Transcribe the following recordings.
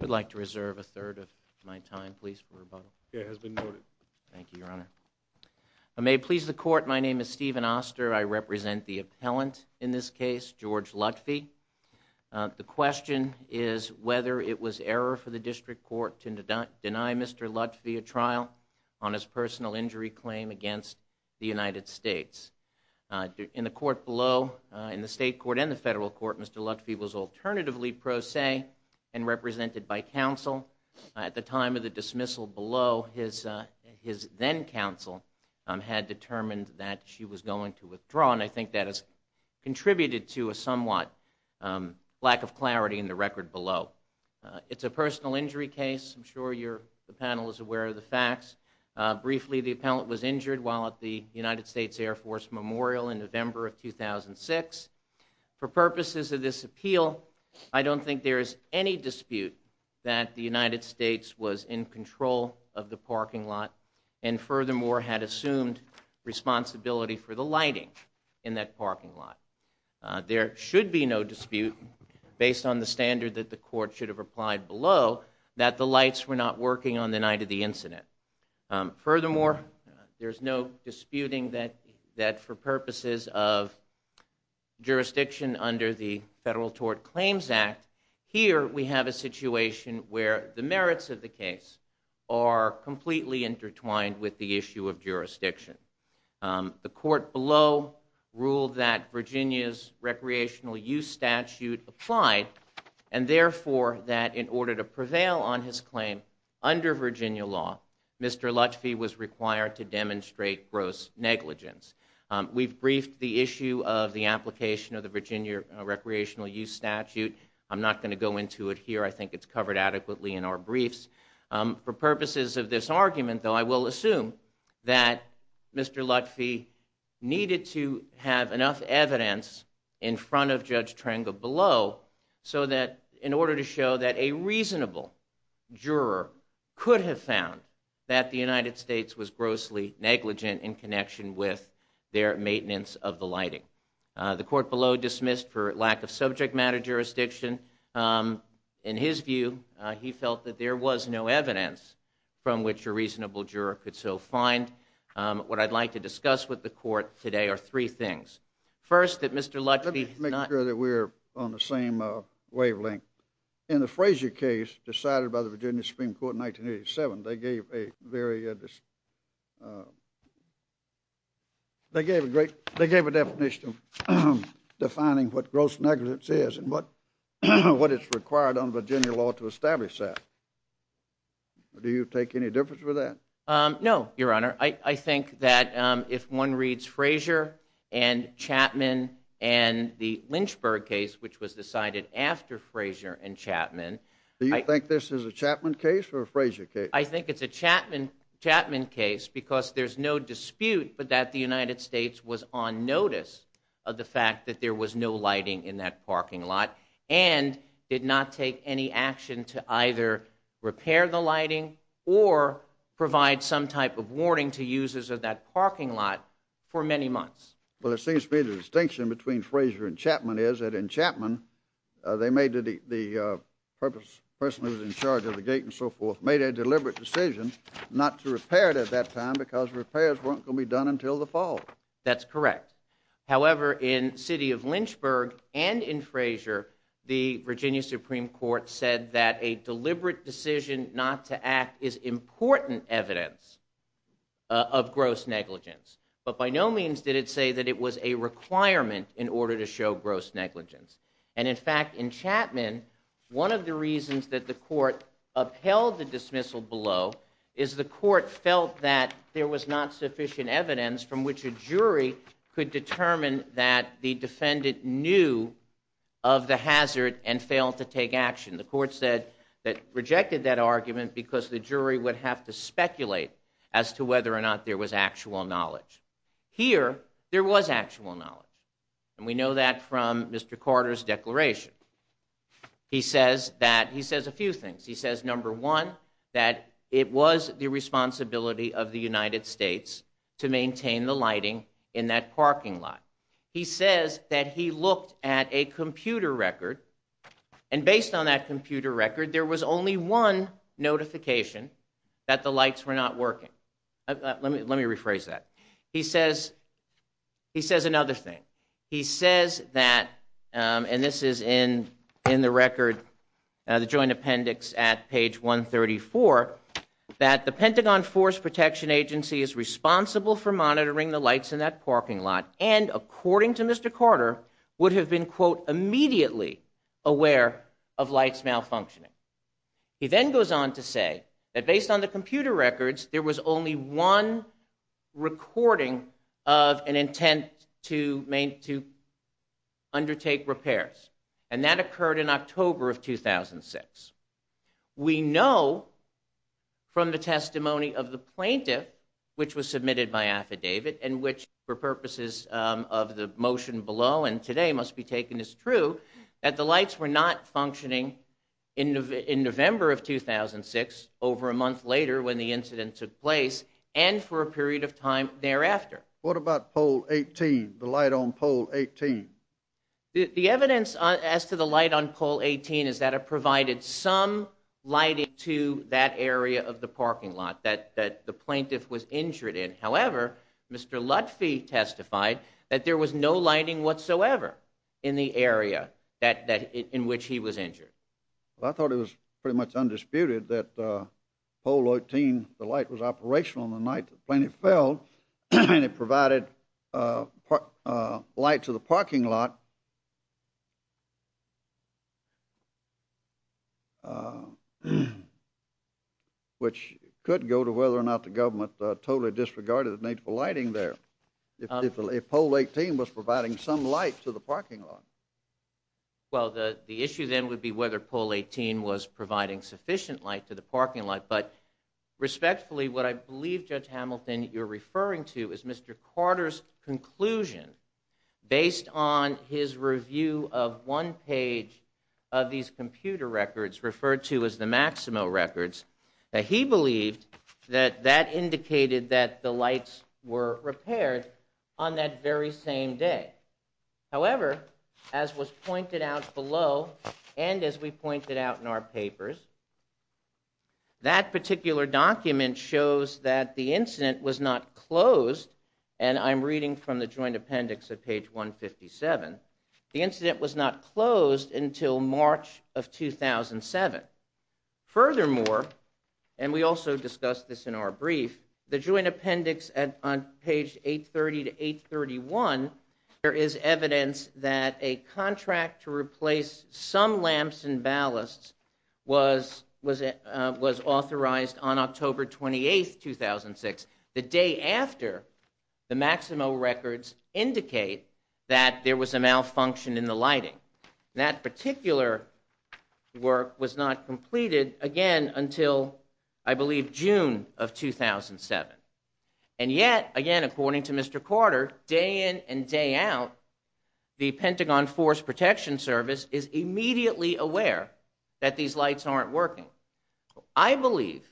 We'd like to reserve a third of my time, please, for rebuttal. It has been noted. Thank you, Your Honor. May it please the court, my name is Stephen Oster. I represent the appellant in this case, George Lutfi. The question is whether it was error for the district court to deny Mr. Lutfi a trial on his personal injury claim against the United States. In the court below, in the state court and the federal court, Mr. Lutfi was alternatively pro se and represented by counsel. At the time of the dismissal below, his then-counsel had determined that she was going to withdraw, and I think that has contributed to a somewhat lack of clarity in the record below. It's a personal injury case. I'm sure the panel is aware of the facts. Briefly, the appellant was injured while at the United States Air Force Memorial in 2006. For purposes of this appeal, I don't think there is any dispute that the United States was in control of the parking lot, and furthermore, had assumed responsibility for the lighting in that parking lot. There should be no dispute based on the standard that the court should have applied below, that the lights were not working on the night of the incident. Furthermore, there's no jurisdiction under the Federal Tort Claims Act. Here, we have a situation where the merits of the case are completely intertwined with the issue of jurisdiction. The court below ruled that Virginia's recreational use statute applied, and therefore, that in order to prevail on his claim under Virginia law, Mr. Lutfi was required to demonstrate gross negligence. We've briefed the issue of the application of the Virginia recreational use statute. I'm not going to go into it here. I think it's covered adequately in our briefs. For purposes of this argument, though, I will assume that Mr. Lutfi needed to have enough evidence in front of Judge Trengel below, so that in order to show that a reasonable juror could have found that the United States was grossly negligent in connection with their maintenance of the lighting. The court below dismissed for lack of subject matter jurisdiction. In his view, he felt that there was no evidence from which a reasonable juror could so find. What I'd like to discuss with the court today are three things. First, that Mr. Lutfi... Let me make sure that we're on the same wavelength. In the Frazier case, decided by the They gave a great... They gave a definition of defining what gross negligence is and what it's required under Virginia law to establish that. Do you take any difference with that? No, Your Honor. I think that if one reads Frazier and Chapman and the Lynchburg case, which was decided after Frazier and Chapman... Do you think this is a Chapman case or a Frazier case? I think it's a Chapman case because there's no dispute but that the United States was on notice of the fact that there was no lighting in that parking lot and did not take any action to either repair the lighting or provide some type of warning to users of that parking lot for many months. Well, it seems to be the distinction between Frazier and Chapman is that in Chapman, they made the purpose... person who was in repaired at that time because repairs weren't going to be done until the fall. That's correct. However, in city of Lynchburg and in Frazier, the Virginia Supreme Court said that a deliberate decision not to act is important evidence of gross negligence. But by no means did it say that it was a requirement in order to show gross negligence. And in fact, in Chapman, one of the reasons that the court upheld the dismissal below is the court felt that there was not sufficient evidence from which a jury could determine that the defendant knew of the hazard and failed to take action. The court said that rejected that argument because the jury would have to speculate as to whether or not there was actual knowledge. Here, there was actual knowledge and we know that from Mr. Carter's declaration. He says that... he says a few things. He says number one, that it was the responsibility of the United States to maintain the lighting in that parking lot. He says that he looked at a computer record and based on that computer record, there was only one notification that the lights were not working. Let me rephrase that. He says... he says another thing. He says that, and this is in the record, the joint appendix at page 134, that the Pentagon Force Protection Agency is responsible for monitoring the lights in that parking lot and, according to Mr. Carter, would have been, quote, immediately aware of lights malfunctioning. He then goes on to say that based on the computer records, there was only one recording of an intent to undertake repairs and that occurred in October of 2006. We know from the testimony of the plaintiff, which was submitted by affidavit and which for purposes of the motion below and today must be taken as true, that the lights were not functioning in November of 2006, over a month later when the incident took place and for a period of time thereafter. What about poll 18? The light on poll 18? The evidence as to the light on poll 18 is that it provided some lighting to that area of the parking lot that the plaintiff was injured in. However, Mr. Lutfi testified that there was no lighting whatsoever in the area that in which he was injured. I thought it was pretty much undisputed that poll 18, the light was operational on the night the plaintiff fell and it provided light to the parking lot, which could go to whether or not the government totally disregarded the need for lighting there. If poll 18 was providing some light to the parking lot. Well, the issue then would be whether poll 18 was providing sufficient light to the parking lot. But respectfully, what I believe, Judge Hamilton, you're referring to is Mr. Carter's conclusion based on his review of one page of these computer records referred to as the Maximo records, that he believed that that indicated that the lights were repaired on that very same day. However, as was pointed out below and as we pointed out in our papers, that particular document shows that the incident was not closed, and I'm reading from the joint appendix at page 157, the incident was not closed until March of 2007. Furthermore, and we also discussed this in our brief, the joint appendix at page 830 to 831, there is evidence that a contract to replace some lamps and ballasts was authorized on October 28, 2006, the day after the Maximo records indicate that there was a malfunction in the lighting. That particular work was not completed again until, I believe, June of 2007. And yet, again, according to Mr. Carter, day in and day out, the Pentagon Force Protection Service is immediately aware that these lights aren't working. I believe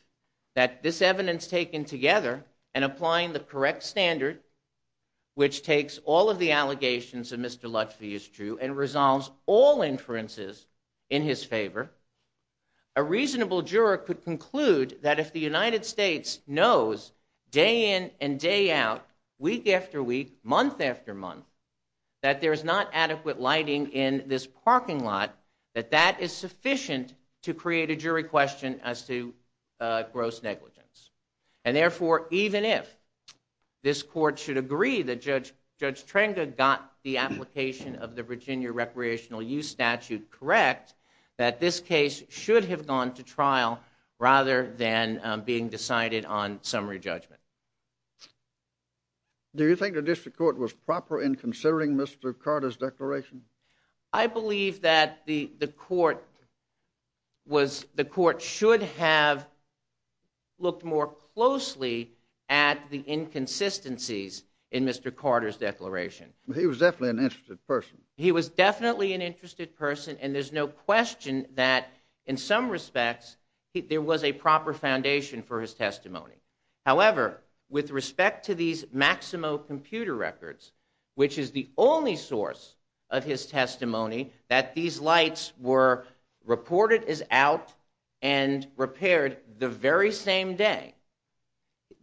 that this evidence taken together and applying the correct standard, which takes all of the allegations of Mr. Lutfi is true and resolves all inferences in his favor, a reasonable juror could conclude that if the United States knows day in and day out, week after week, month after month, that there is not adequate lighting in this parking lot, that that is sufficient to create a jury question as to gross negligence. And therefore, even if this court should agree that Judge Trenga got the application of the Virginia Recreational Use Statute correct, that this case should have gone to trial rather than being decided on summary judgment. Do you think the district court was proper in considering Mr. Carter's declaration? I believe that the court should have looked more closely at the inconsistencies in Mr. Carter's declaration. He was definitely an interested person. He was definitely an a proper foundation for his testimony. However, with respect to these Maximo computer records, which is the only source of his testimony that these lights were reported as out and repaired the very same day,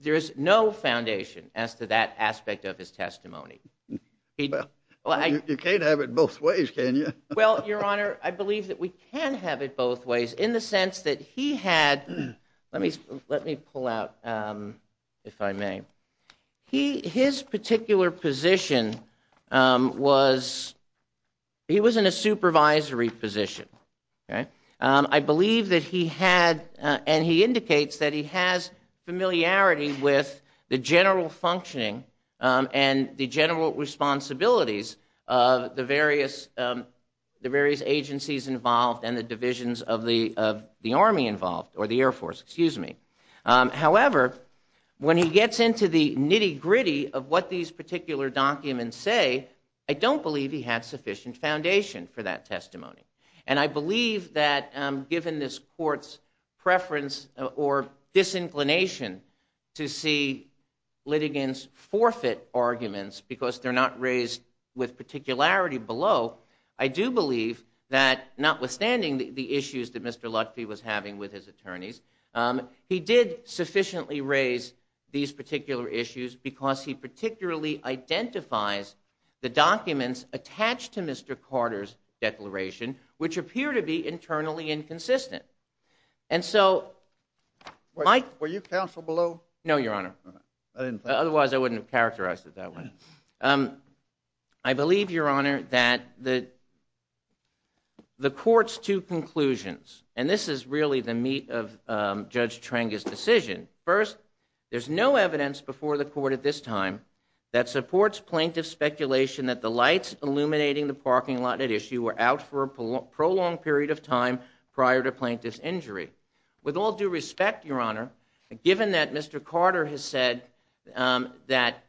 there is no foundation as to that aspect of his testimony. You can't have it both ways, can you? Well, Your Honor, I believe that we can have it both ways in the sense that he had, let me pull out, if I may, his particular position was, he was in a supervisory position. I believe that he had, and he indicates that he has familiarity with the general functioning and the general responsibilities of the Air Force. However, when he gets into the nitty-gritty of what these particular documents say, I don't believe he had sufficient foundation for that testimony. And I believe that given this court's preference or disinclination to see litigants forfeit arguments because they're not raised with particularity below, I do believe that notwithstanding the issues that Mr. Luckfey was having with his attorneys, he did sufficiently raise these particular issues because he particularly identifies the documents attached to Mr. Carter's declaration which appear to be internally inconsistent. And so, Mike, were you counsel below? No, Your Honor. Otherwise, I wouldn't have characterized it that way. I believe, Your Honor, that the the court's two First, there's no evidence before the court at this time that supports plaintiff's speculation that the lights illuminating the parking lot at issue were out for a prolonged period of time prior to plaintiff's injury. With all due respect, Your Honor, given that Mr. Carter has said that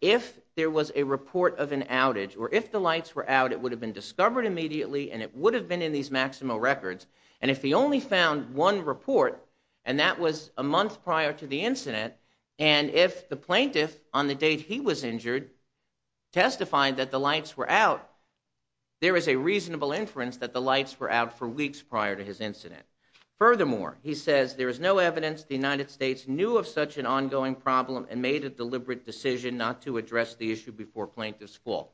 if there was a report of an outage, or if the lights were out, it would have been discovered immediately and it would have been in these Maximo records, and if he only found one report, and that was a month prior to the incident, and if the plaintiff, on the date he was injured, testified that the lights were out, there is a reasonable inference that the lights were out for weeks prior to his incident. Furthermore, he says there is no evidence the United States knew of such an ongoing problem and made a deliberate decision not to address the issue before plaintiff's fall.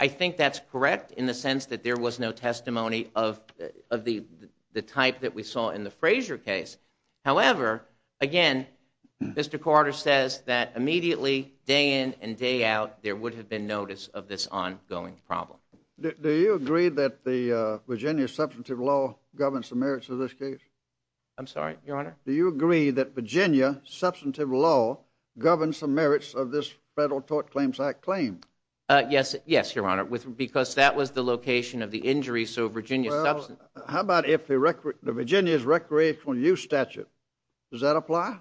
I think that's correct in the sense that there saw in the Frazier case. However, again, Mr. Carter says that immediately, day in and day out, there would have been notice of this ongoing problem. Do you agree that the Virginia substantive law governs the merits of this case? I'm sorry, Your Honor? Do you agree that Virginia substantive law governs the merits of this Federal Tort Claims Act claim? Yes, yes, Your Honor, with because that was the location of the injury, so Virginia substance. How about if the Virginia's recreational use statute? Does that apply?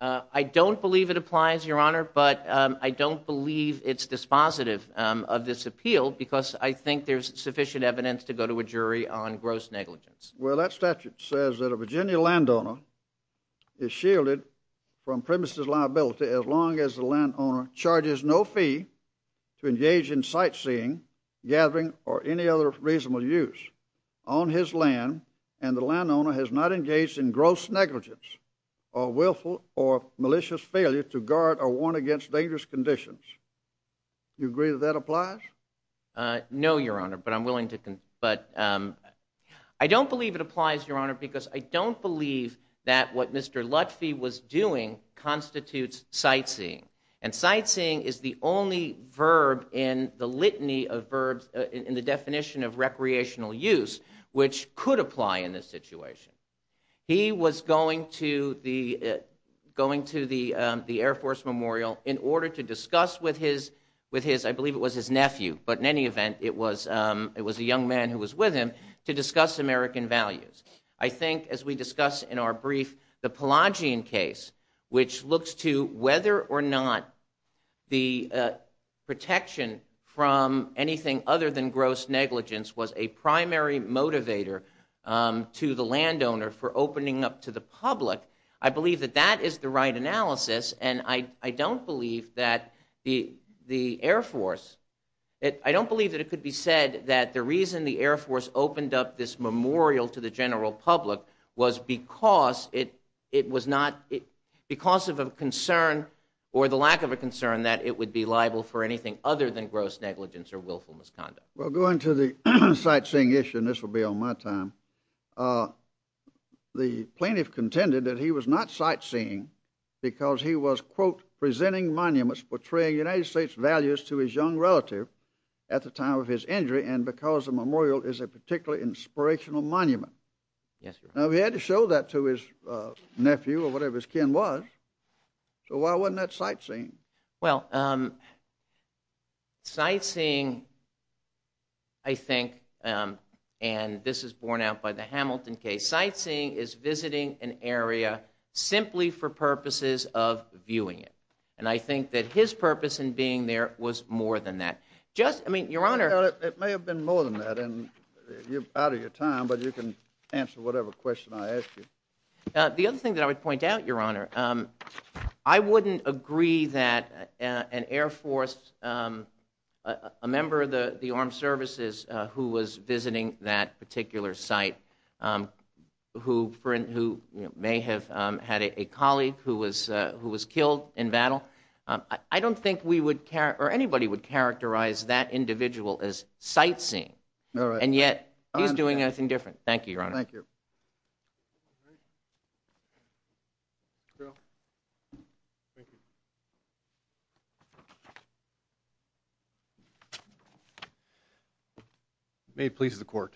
I don't believe it applies, Your Honor, but I don't believe it's dispositive of this appeal because I think there's sufficient evidence to go to a jury on gross negligence. Well, that statute says that a Virginia landowner is shielded from premises liability as long as the landowner charges no fee to engage in sightseeing, gathering, or any other reasonable use on his land, and the landowner has not engaged in gross negligence or willful or malicious failure to guard or warn against dangerous conditions. You agree that that applies? No, Your Honor, but I'm willing to, but I don't believe it applies, Your Honor, because I don't believe that what Mr. Lutfi was doing constitutes sightseeing, and sightseeing is the only verb in the litany of verbs in the definition of recreational use which could apply in this situation. He was going to the Air Force Memorial in order to discuss with his, I believe it was his nephew, but in any event, it was a young man who was with him to discuss American values. I think, as we discussed in our brief, the Pelagian case, which looks to whether or not the protection from anything other than gross negligence was a primary motivator to the landowner for opening up to the public, I believe that that is the right analysis, and I don't believe that the Air Force, I don't believe that it could be said that the reason the Air Force opened up this memorial to the general public was because it was not, because of a concern or the lack of a concern that it would be liable for anything other than gross negligence or willful misconduct. Well, going to the sightseeing issue, and this will be on my time, the plaintiff contended that he was not sightseeing because he was, quote, presenting monuments portraying United States values to his young relative at the time of his injury, and because the memorial is a particularly inspirational monument. Yes, Your Honor. Now, if he had to show that to his nephew or whatever his kin was, so why wasn't that sightseeing? Well, sightseeing, I think, and this is borne out by the Hamilton case, sightseeing is visiting an area simply for purposes of viewing it, and I think that his purpose in being there was more than that. Just, I mean, Your Honor. It may have been more than that, and you're out of your time, but you can answer whatever question I ask you. The other thing that I would point out, Your Honor, I wouldn't agree that an Air Force, a member of the the armed services who was visiting that particular site, who may have had a colleague who was who was killed in battle, I don't think we would care or anybody would characterize that individual as sightseeing, and yet he's doing anything different. Thank you, Your Honor. May it please the Court.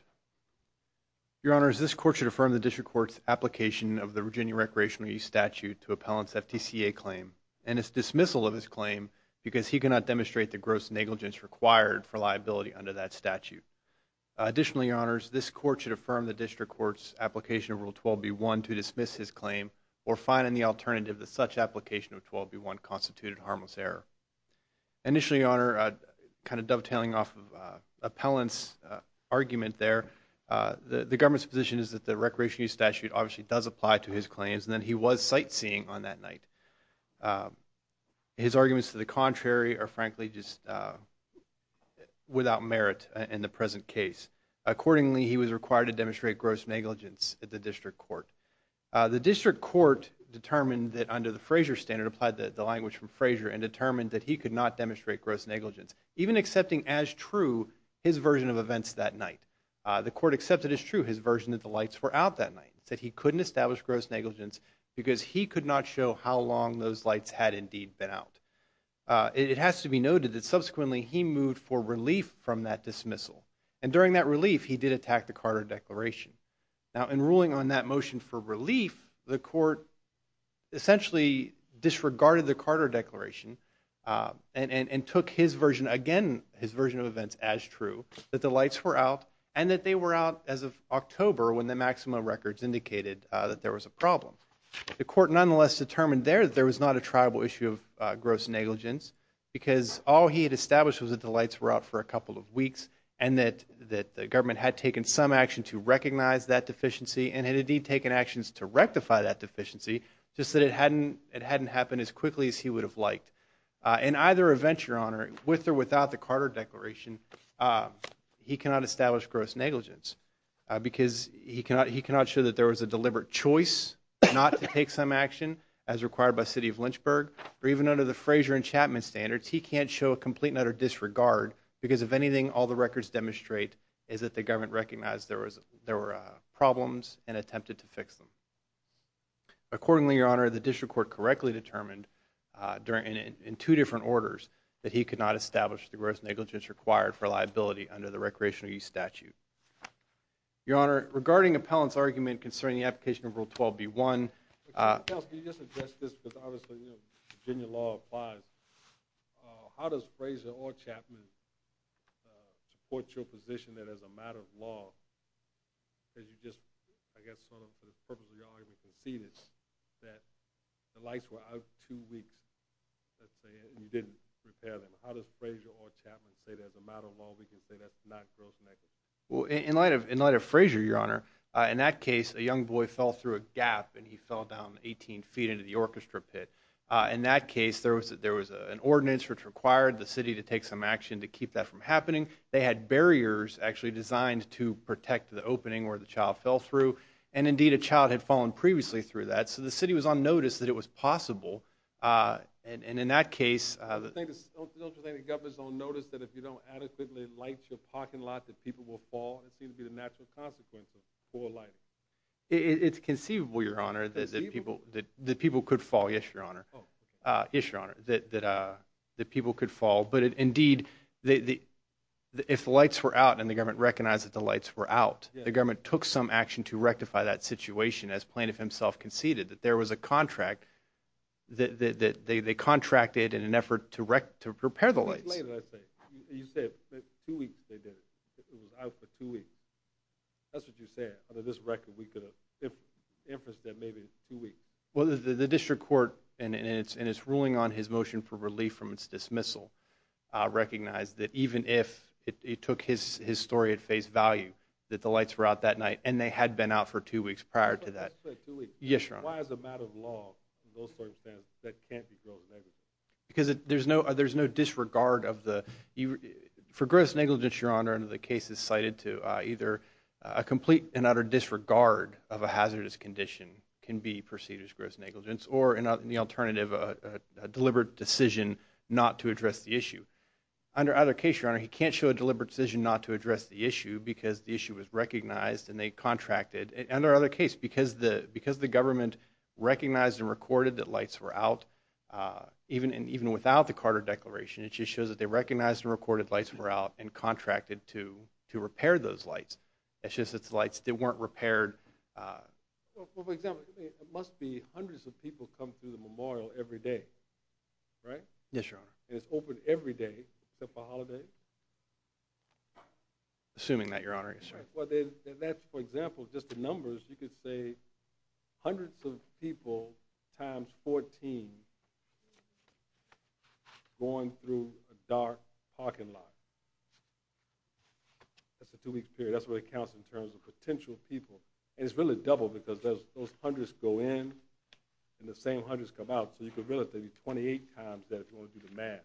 Your Honor, this court should affirm the District Court's application of the Virginia Recreational Use Statute to appellants FTCA claim and its dismissal of his claim because he cannot demonstrate the gross negligence required for liability under that statute. Additionally, Your Honors, this claim or find in the alternative that such application of 12b1 constituted harmless error. Initially, Your Honor, kind of dovetailing off of appellants argument there, the government's position is that the recreational use statute obviously does apply to his claims, and then he was sightseeing on that night. His arguments to the contrary are frankly just without merit in the present case. Accordingly, he was required to demonstrate gross negligence at the District Court. The District Court determined that under the Frazier standard, applied the language from Frazier, and determined that he could not demonstrate gross negligence, even accepting as true his version of events that night. The court accepted as true his version that the lights were out that night, said he couldn't establish gross negligence because he could not show how long those lights had indeed been out. It has to be noted that subsequently he moved for relief from that dismissal, and during that relief he did attack the motion for relief, the court essentially disregarded the Carter Declaration and took his version again, his version of events as true, that the lights were out and that they were out as of October when the Maximo records indicated that there was a problem. The court nonetheless determined there that there was not a tribal issue of gross negligence because all he had established was that the lights were out for a couple of weeks and that the had taken some action to recognize that deficiency and had indeed taken actions to rectify that deficiency, just that it hadn't it hadn't happened as quickly as he would have liked. In either event, Your Honor, with or without the Carter Declaration, he cannot establish gross negligence because he cannot show that there was a deliberate choice not to take some action as required by City of Lynchburg, or even under the Frazier and Chapman standards, he can't show a complete and utter disregard because if anything all the records demonstrate is that the government recognized there was there were problems and attempted to fix them. Accordingly, Your Honor, the district court correctly determined during in two different orders that he could not establish the gross negligence required for liability under the recreational use statute. Your Honor, regarding Appellant's argument concerning the application of Rule 12b1... In light of Frazier, Your Honor, in that case a young boy fell through a gap and he fell down 18 feet into the orchestra pit. In that case there was that there was an ordinance which required the city to take some actually designed to protect the opening where the child fell through and indeed a child had fallen previously through that so the city was on notice that it was possible and in that case... The government is on notice that if you don't adequately light your parking lot that people will fall? It seems to be the natural consequence of poor lighting. It's conceivable, Your Honor, that people could fall. Yes, Your Honor. Yes, Your Honor, that people could fall but indeed if the lights were out and the government recognized that the lights were out, the government took some action to rectify that situation as Plaintiff himself conceded that there was a contract that they contracted in an effort to prepare the lights. Two weeks they did it. It was out for two weeks. That's what you said. Under this record we could have inferenced that maybe it was two weeks. Well, the district court and it's ruling on his motion for relief from its dismissal recognized that even if it took his story at face value that the lights were out that night and they had been out for two weeks prior to that. Yes, Your Honor. Why as a matter of law, in those circumstances, that can't be gross negligence? Because there's no disregard of the... For gross negligence, Your Honor, under the case is cited to either a complete and utter disregard of a hazardous condition can be perceived as gross negligence or in the alternative a deliberate decision not to address the issue. Under either case, Your Honor, he can't show a deliberate decision not to address the issue because the issue was recognized and they contracted. And under either case, because the government recognized and recorded that lights were out, even without the Carter Declaration, it just shows that they recognized and recorded lights were out and contracted to repair those lights. It's just that the lights weren't repaired. Well, for example, it must be hundreds of people come through the memorial every day, right? Yes, Your Honor. And it's open every day except for holidays? Assuming that, Your Honor, yes, Your Honor. Well, that's for example, just the numbers, you could say hundreds of people times 14 going through a dark parking lot. That's a potential people. And it's really double because those hundreds go in and the same hundreds come out. So you could really say 28 times that if you want to do the math.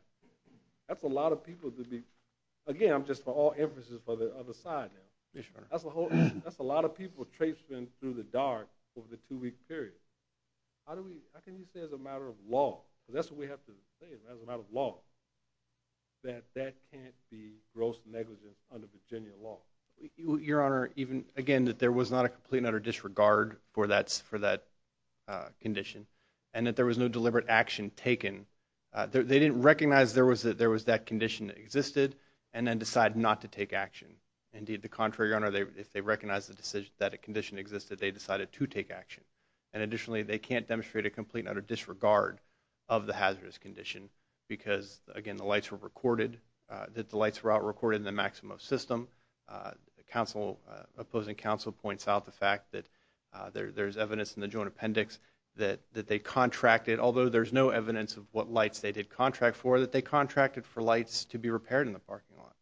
That's a lot of people to be, again, I'm just for all emphases for the other side now. That's a whole, that's a lot of people traipsed in through the dark over the two-week period. How do we, how can you say as a matter of law, that's what we have to say, as a matter of law, that that can't be gross negligence under Virginia law? Your Honor, even again, that there was not a complete and utter disregard for that, for that condition and that there was no deliberate action taken. They didn't recognize there was that there was that condition that existed and then decide not to take action. Indeed, the contrary, Your Honor, if they recognize the decision that a condition existed, they decided to take action. And additionally, they can't demonstrate a complete and utter disregard of the hazardous condition because again, the lights were recorded, that the council, opposing council points out the fact that there's evidence in the joint appendix that they contracted, although there's no evidence of what lights they did contract for, that they contracted for lights to be repaired in the parking lot.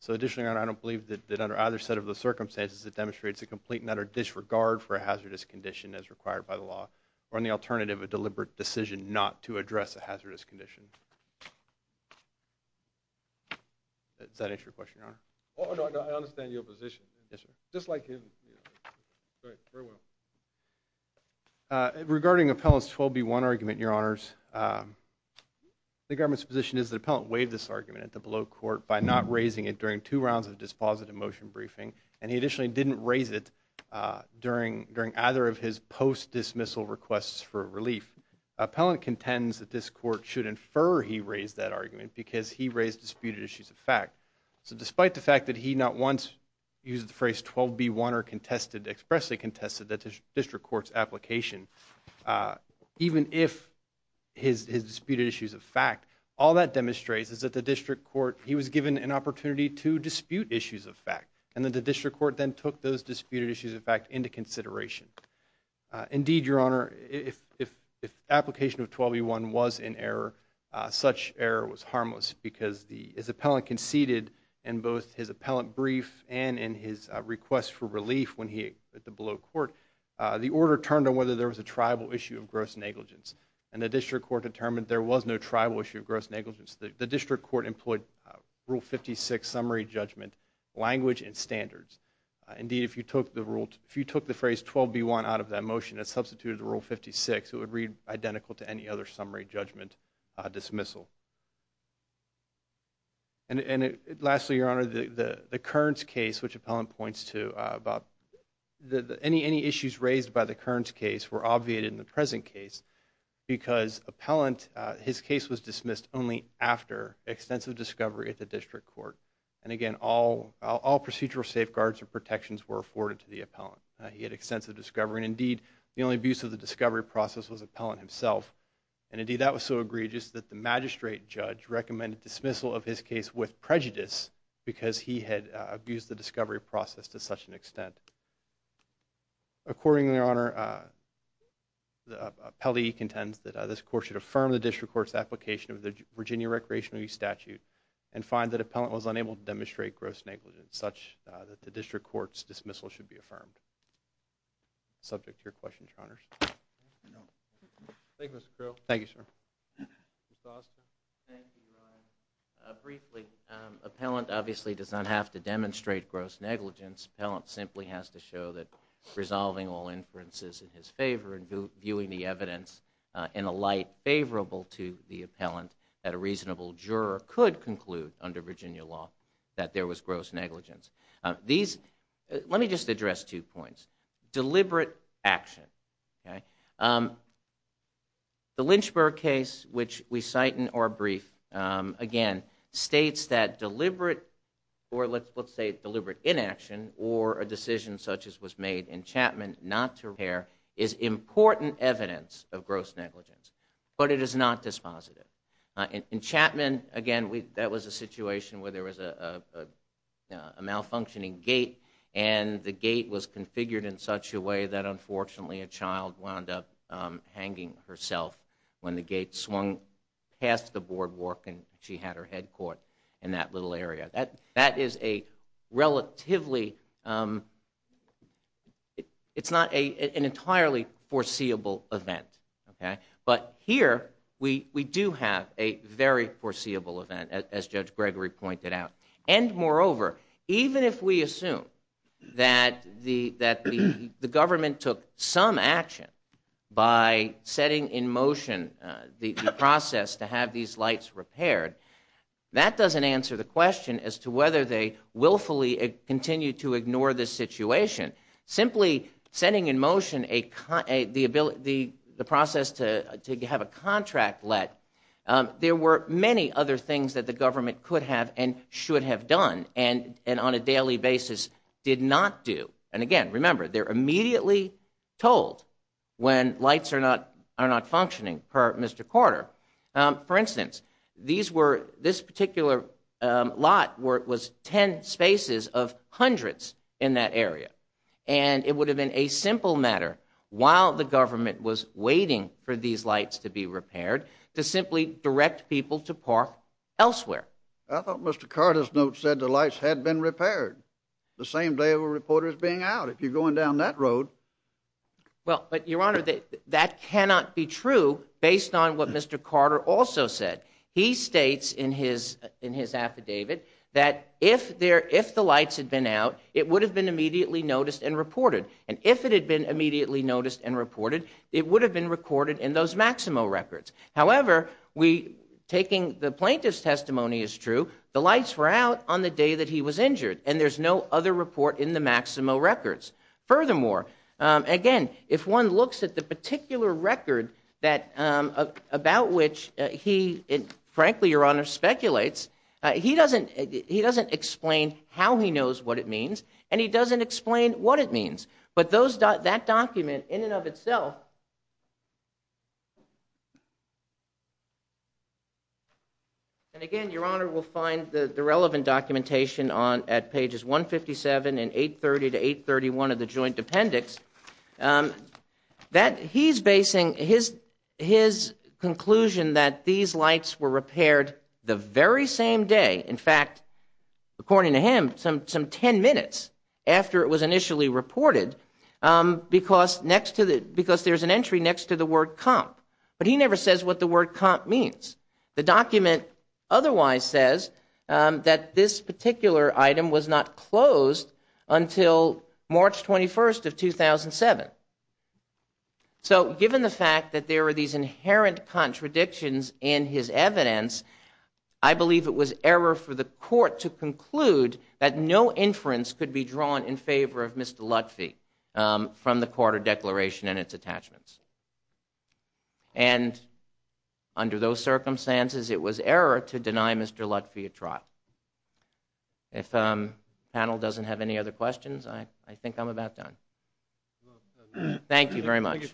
So additionally, Your Honor, I don't believe that under either set of the circumstances, it demonstrates a complete and utter disregard for a hazardous condition as required by the law or in the alternative, a deliberate decision not to address a hazardous condition. Does that answer your question, Your Honor? Oh, no, no, I understand your position. Yes, sir. Just like him, you know. Great, very well. Regarding Appellant's 12B1 argument, Your Honors, the government's position is that Appellant waived this argument at the below court by not raising it during two rounds of dispositive motion briefing and he additionally didn't raise it during either of his post-dismissal requests for relief. Appellant contends that this court should infer that the motion was he raised that argument because he raised disputed issues of fact. So despite the fact that he not once used the phrase 12B1 or contested, expressly contested the district court's application, even if his disputed issues of fact, all that demonstrates is that the district court, he was given an opportunity to dispute issues of fact and that the district court then took those disputed issues of fact into consideration. Indeed, Your Honor, if application of 12B1 was in error, such error was harmless because the, as Appellant conceded in both his appellant brief and in his request for relief when he, at the below court, the order turned on whether there was a tribal issue of gross negligence and the district court determined there was no tribal issue of gross negligence. The district court employed Rule 56 summary judgment, language and standards. Indeed, if you took the rule, if you took the phrase 12B1 out of that motion that substituted the Rule 56, it would read identical to any other summary judgment dismissal. And lastly, Your Honor, the Kearns case, which Appellant points to about any issues raised by the Kearns case were obviated in the present case because Appellant, his case was dismissed only after extensive discovery at the district court. And again, all procedural safeguards or protections were afforded to the Appellant. He had extensive discovery. Indeed, the only abuse of the discovery process was Appellant himself. And indeed, that was so egregious that the magistrate judge recommended dismissal of his case with prejudice because he had abused the discovery process to such an extent. Accordingly, Your Honor, Appellee contends that this court should affirm the district court's application of the Virginia Recreational Use Statute and find that Appellant was unable to demonstrate gross negligence such that the district court's dismissal should be affirmed. Subject to your questions, Your Honors. Thank you, Mr. Creel. Thank you, sir. Thank you, Ron. Briefly, Appellant obviously does not have to demonstrate gross negligence. Appellant simply has to show that resolving all inferences in his favor and viewing the evidence in a light favorable to the Appellant that a reasonable juror could conclude under Virginia law that there was gross negligence. Let me just address two points. Deliberate action. The Lynchburg case, which we cite in our brief, again, states that deliberate or let's say deliberate inaction or a decision such as was made in Chapman not to repair is important evidence of gross negligence, but it is not dispositive. In Chapman, again, that was a case where there was a malfunctioning gate and the gate was configured in such a way that unfortunately a child wound up hanging herself when the gate swung past the boardwalk and she had her head caught in that little area. That is a relatively, it's not an entirely foreseeable event. But here we do have a very foreseeable event as Judge Gregory pointed out. And moreover, even if we assume that the government took some action by setting in motion the process to have these lights repaired, that doesn't answer the question as to whether they willfully continue to ignore this situation. Simply setting in motion the process to have a contract let, there were many other things that the government could have and should have done and on a daily basis did not do. And again, remember, they're immediately told when lights are not functioning per Mr. Carter. For instance, this particular lot was 10 spaces of hundreds in that area. And it would have been a simple matter while the government was waiting for these lights to be repaired to simply direct people to park elsewhere. I thought Mr. Carter's note said the lights had been repaired the same day of a reporter's being out. If you're going down that based on what Mr. Carter also said. He states in his affidavit that if the lights had been out, it would have been immediately noticed and reported. And if it had been immediately noticed and reported, it would have been recorded in those Maximo records. However, the plaintiff's testimony is true. The lights were out on the day that he was injured. And there's no other report in the Maximo records. Furthermore, again, if one looks at the that about which he frankly, Your Honor speculates, he doesn't he doesn't explain how he knows what it means. And he doesn't explain what it means. But those that document in and of itself. And again, Your Honor will find the relevant documentation on at pages 157 and 830 to 831 of the joint appendix that he's basing his his conclusion that these lights were repaired the very same day. In fact, according to him, some some 10 minutes after it was initially reported, because next to the because there's an entry next to the word comp. But he never says what the word comp means. The document otherwise says that this particular item was not closed until March 21st of 2007. So given the fact that there are these inherent contradictions in his evidence, I believe it was error for the court to conclude that no inference could be drawn in favor of Mr. Lutfi from the court of declaration and its attachments. And under those circumstances, it was error to deny Mr. Lutfi a trial. If panel doesn't have any other questions, I think I'm about done. Thank you very much.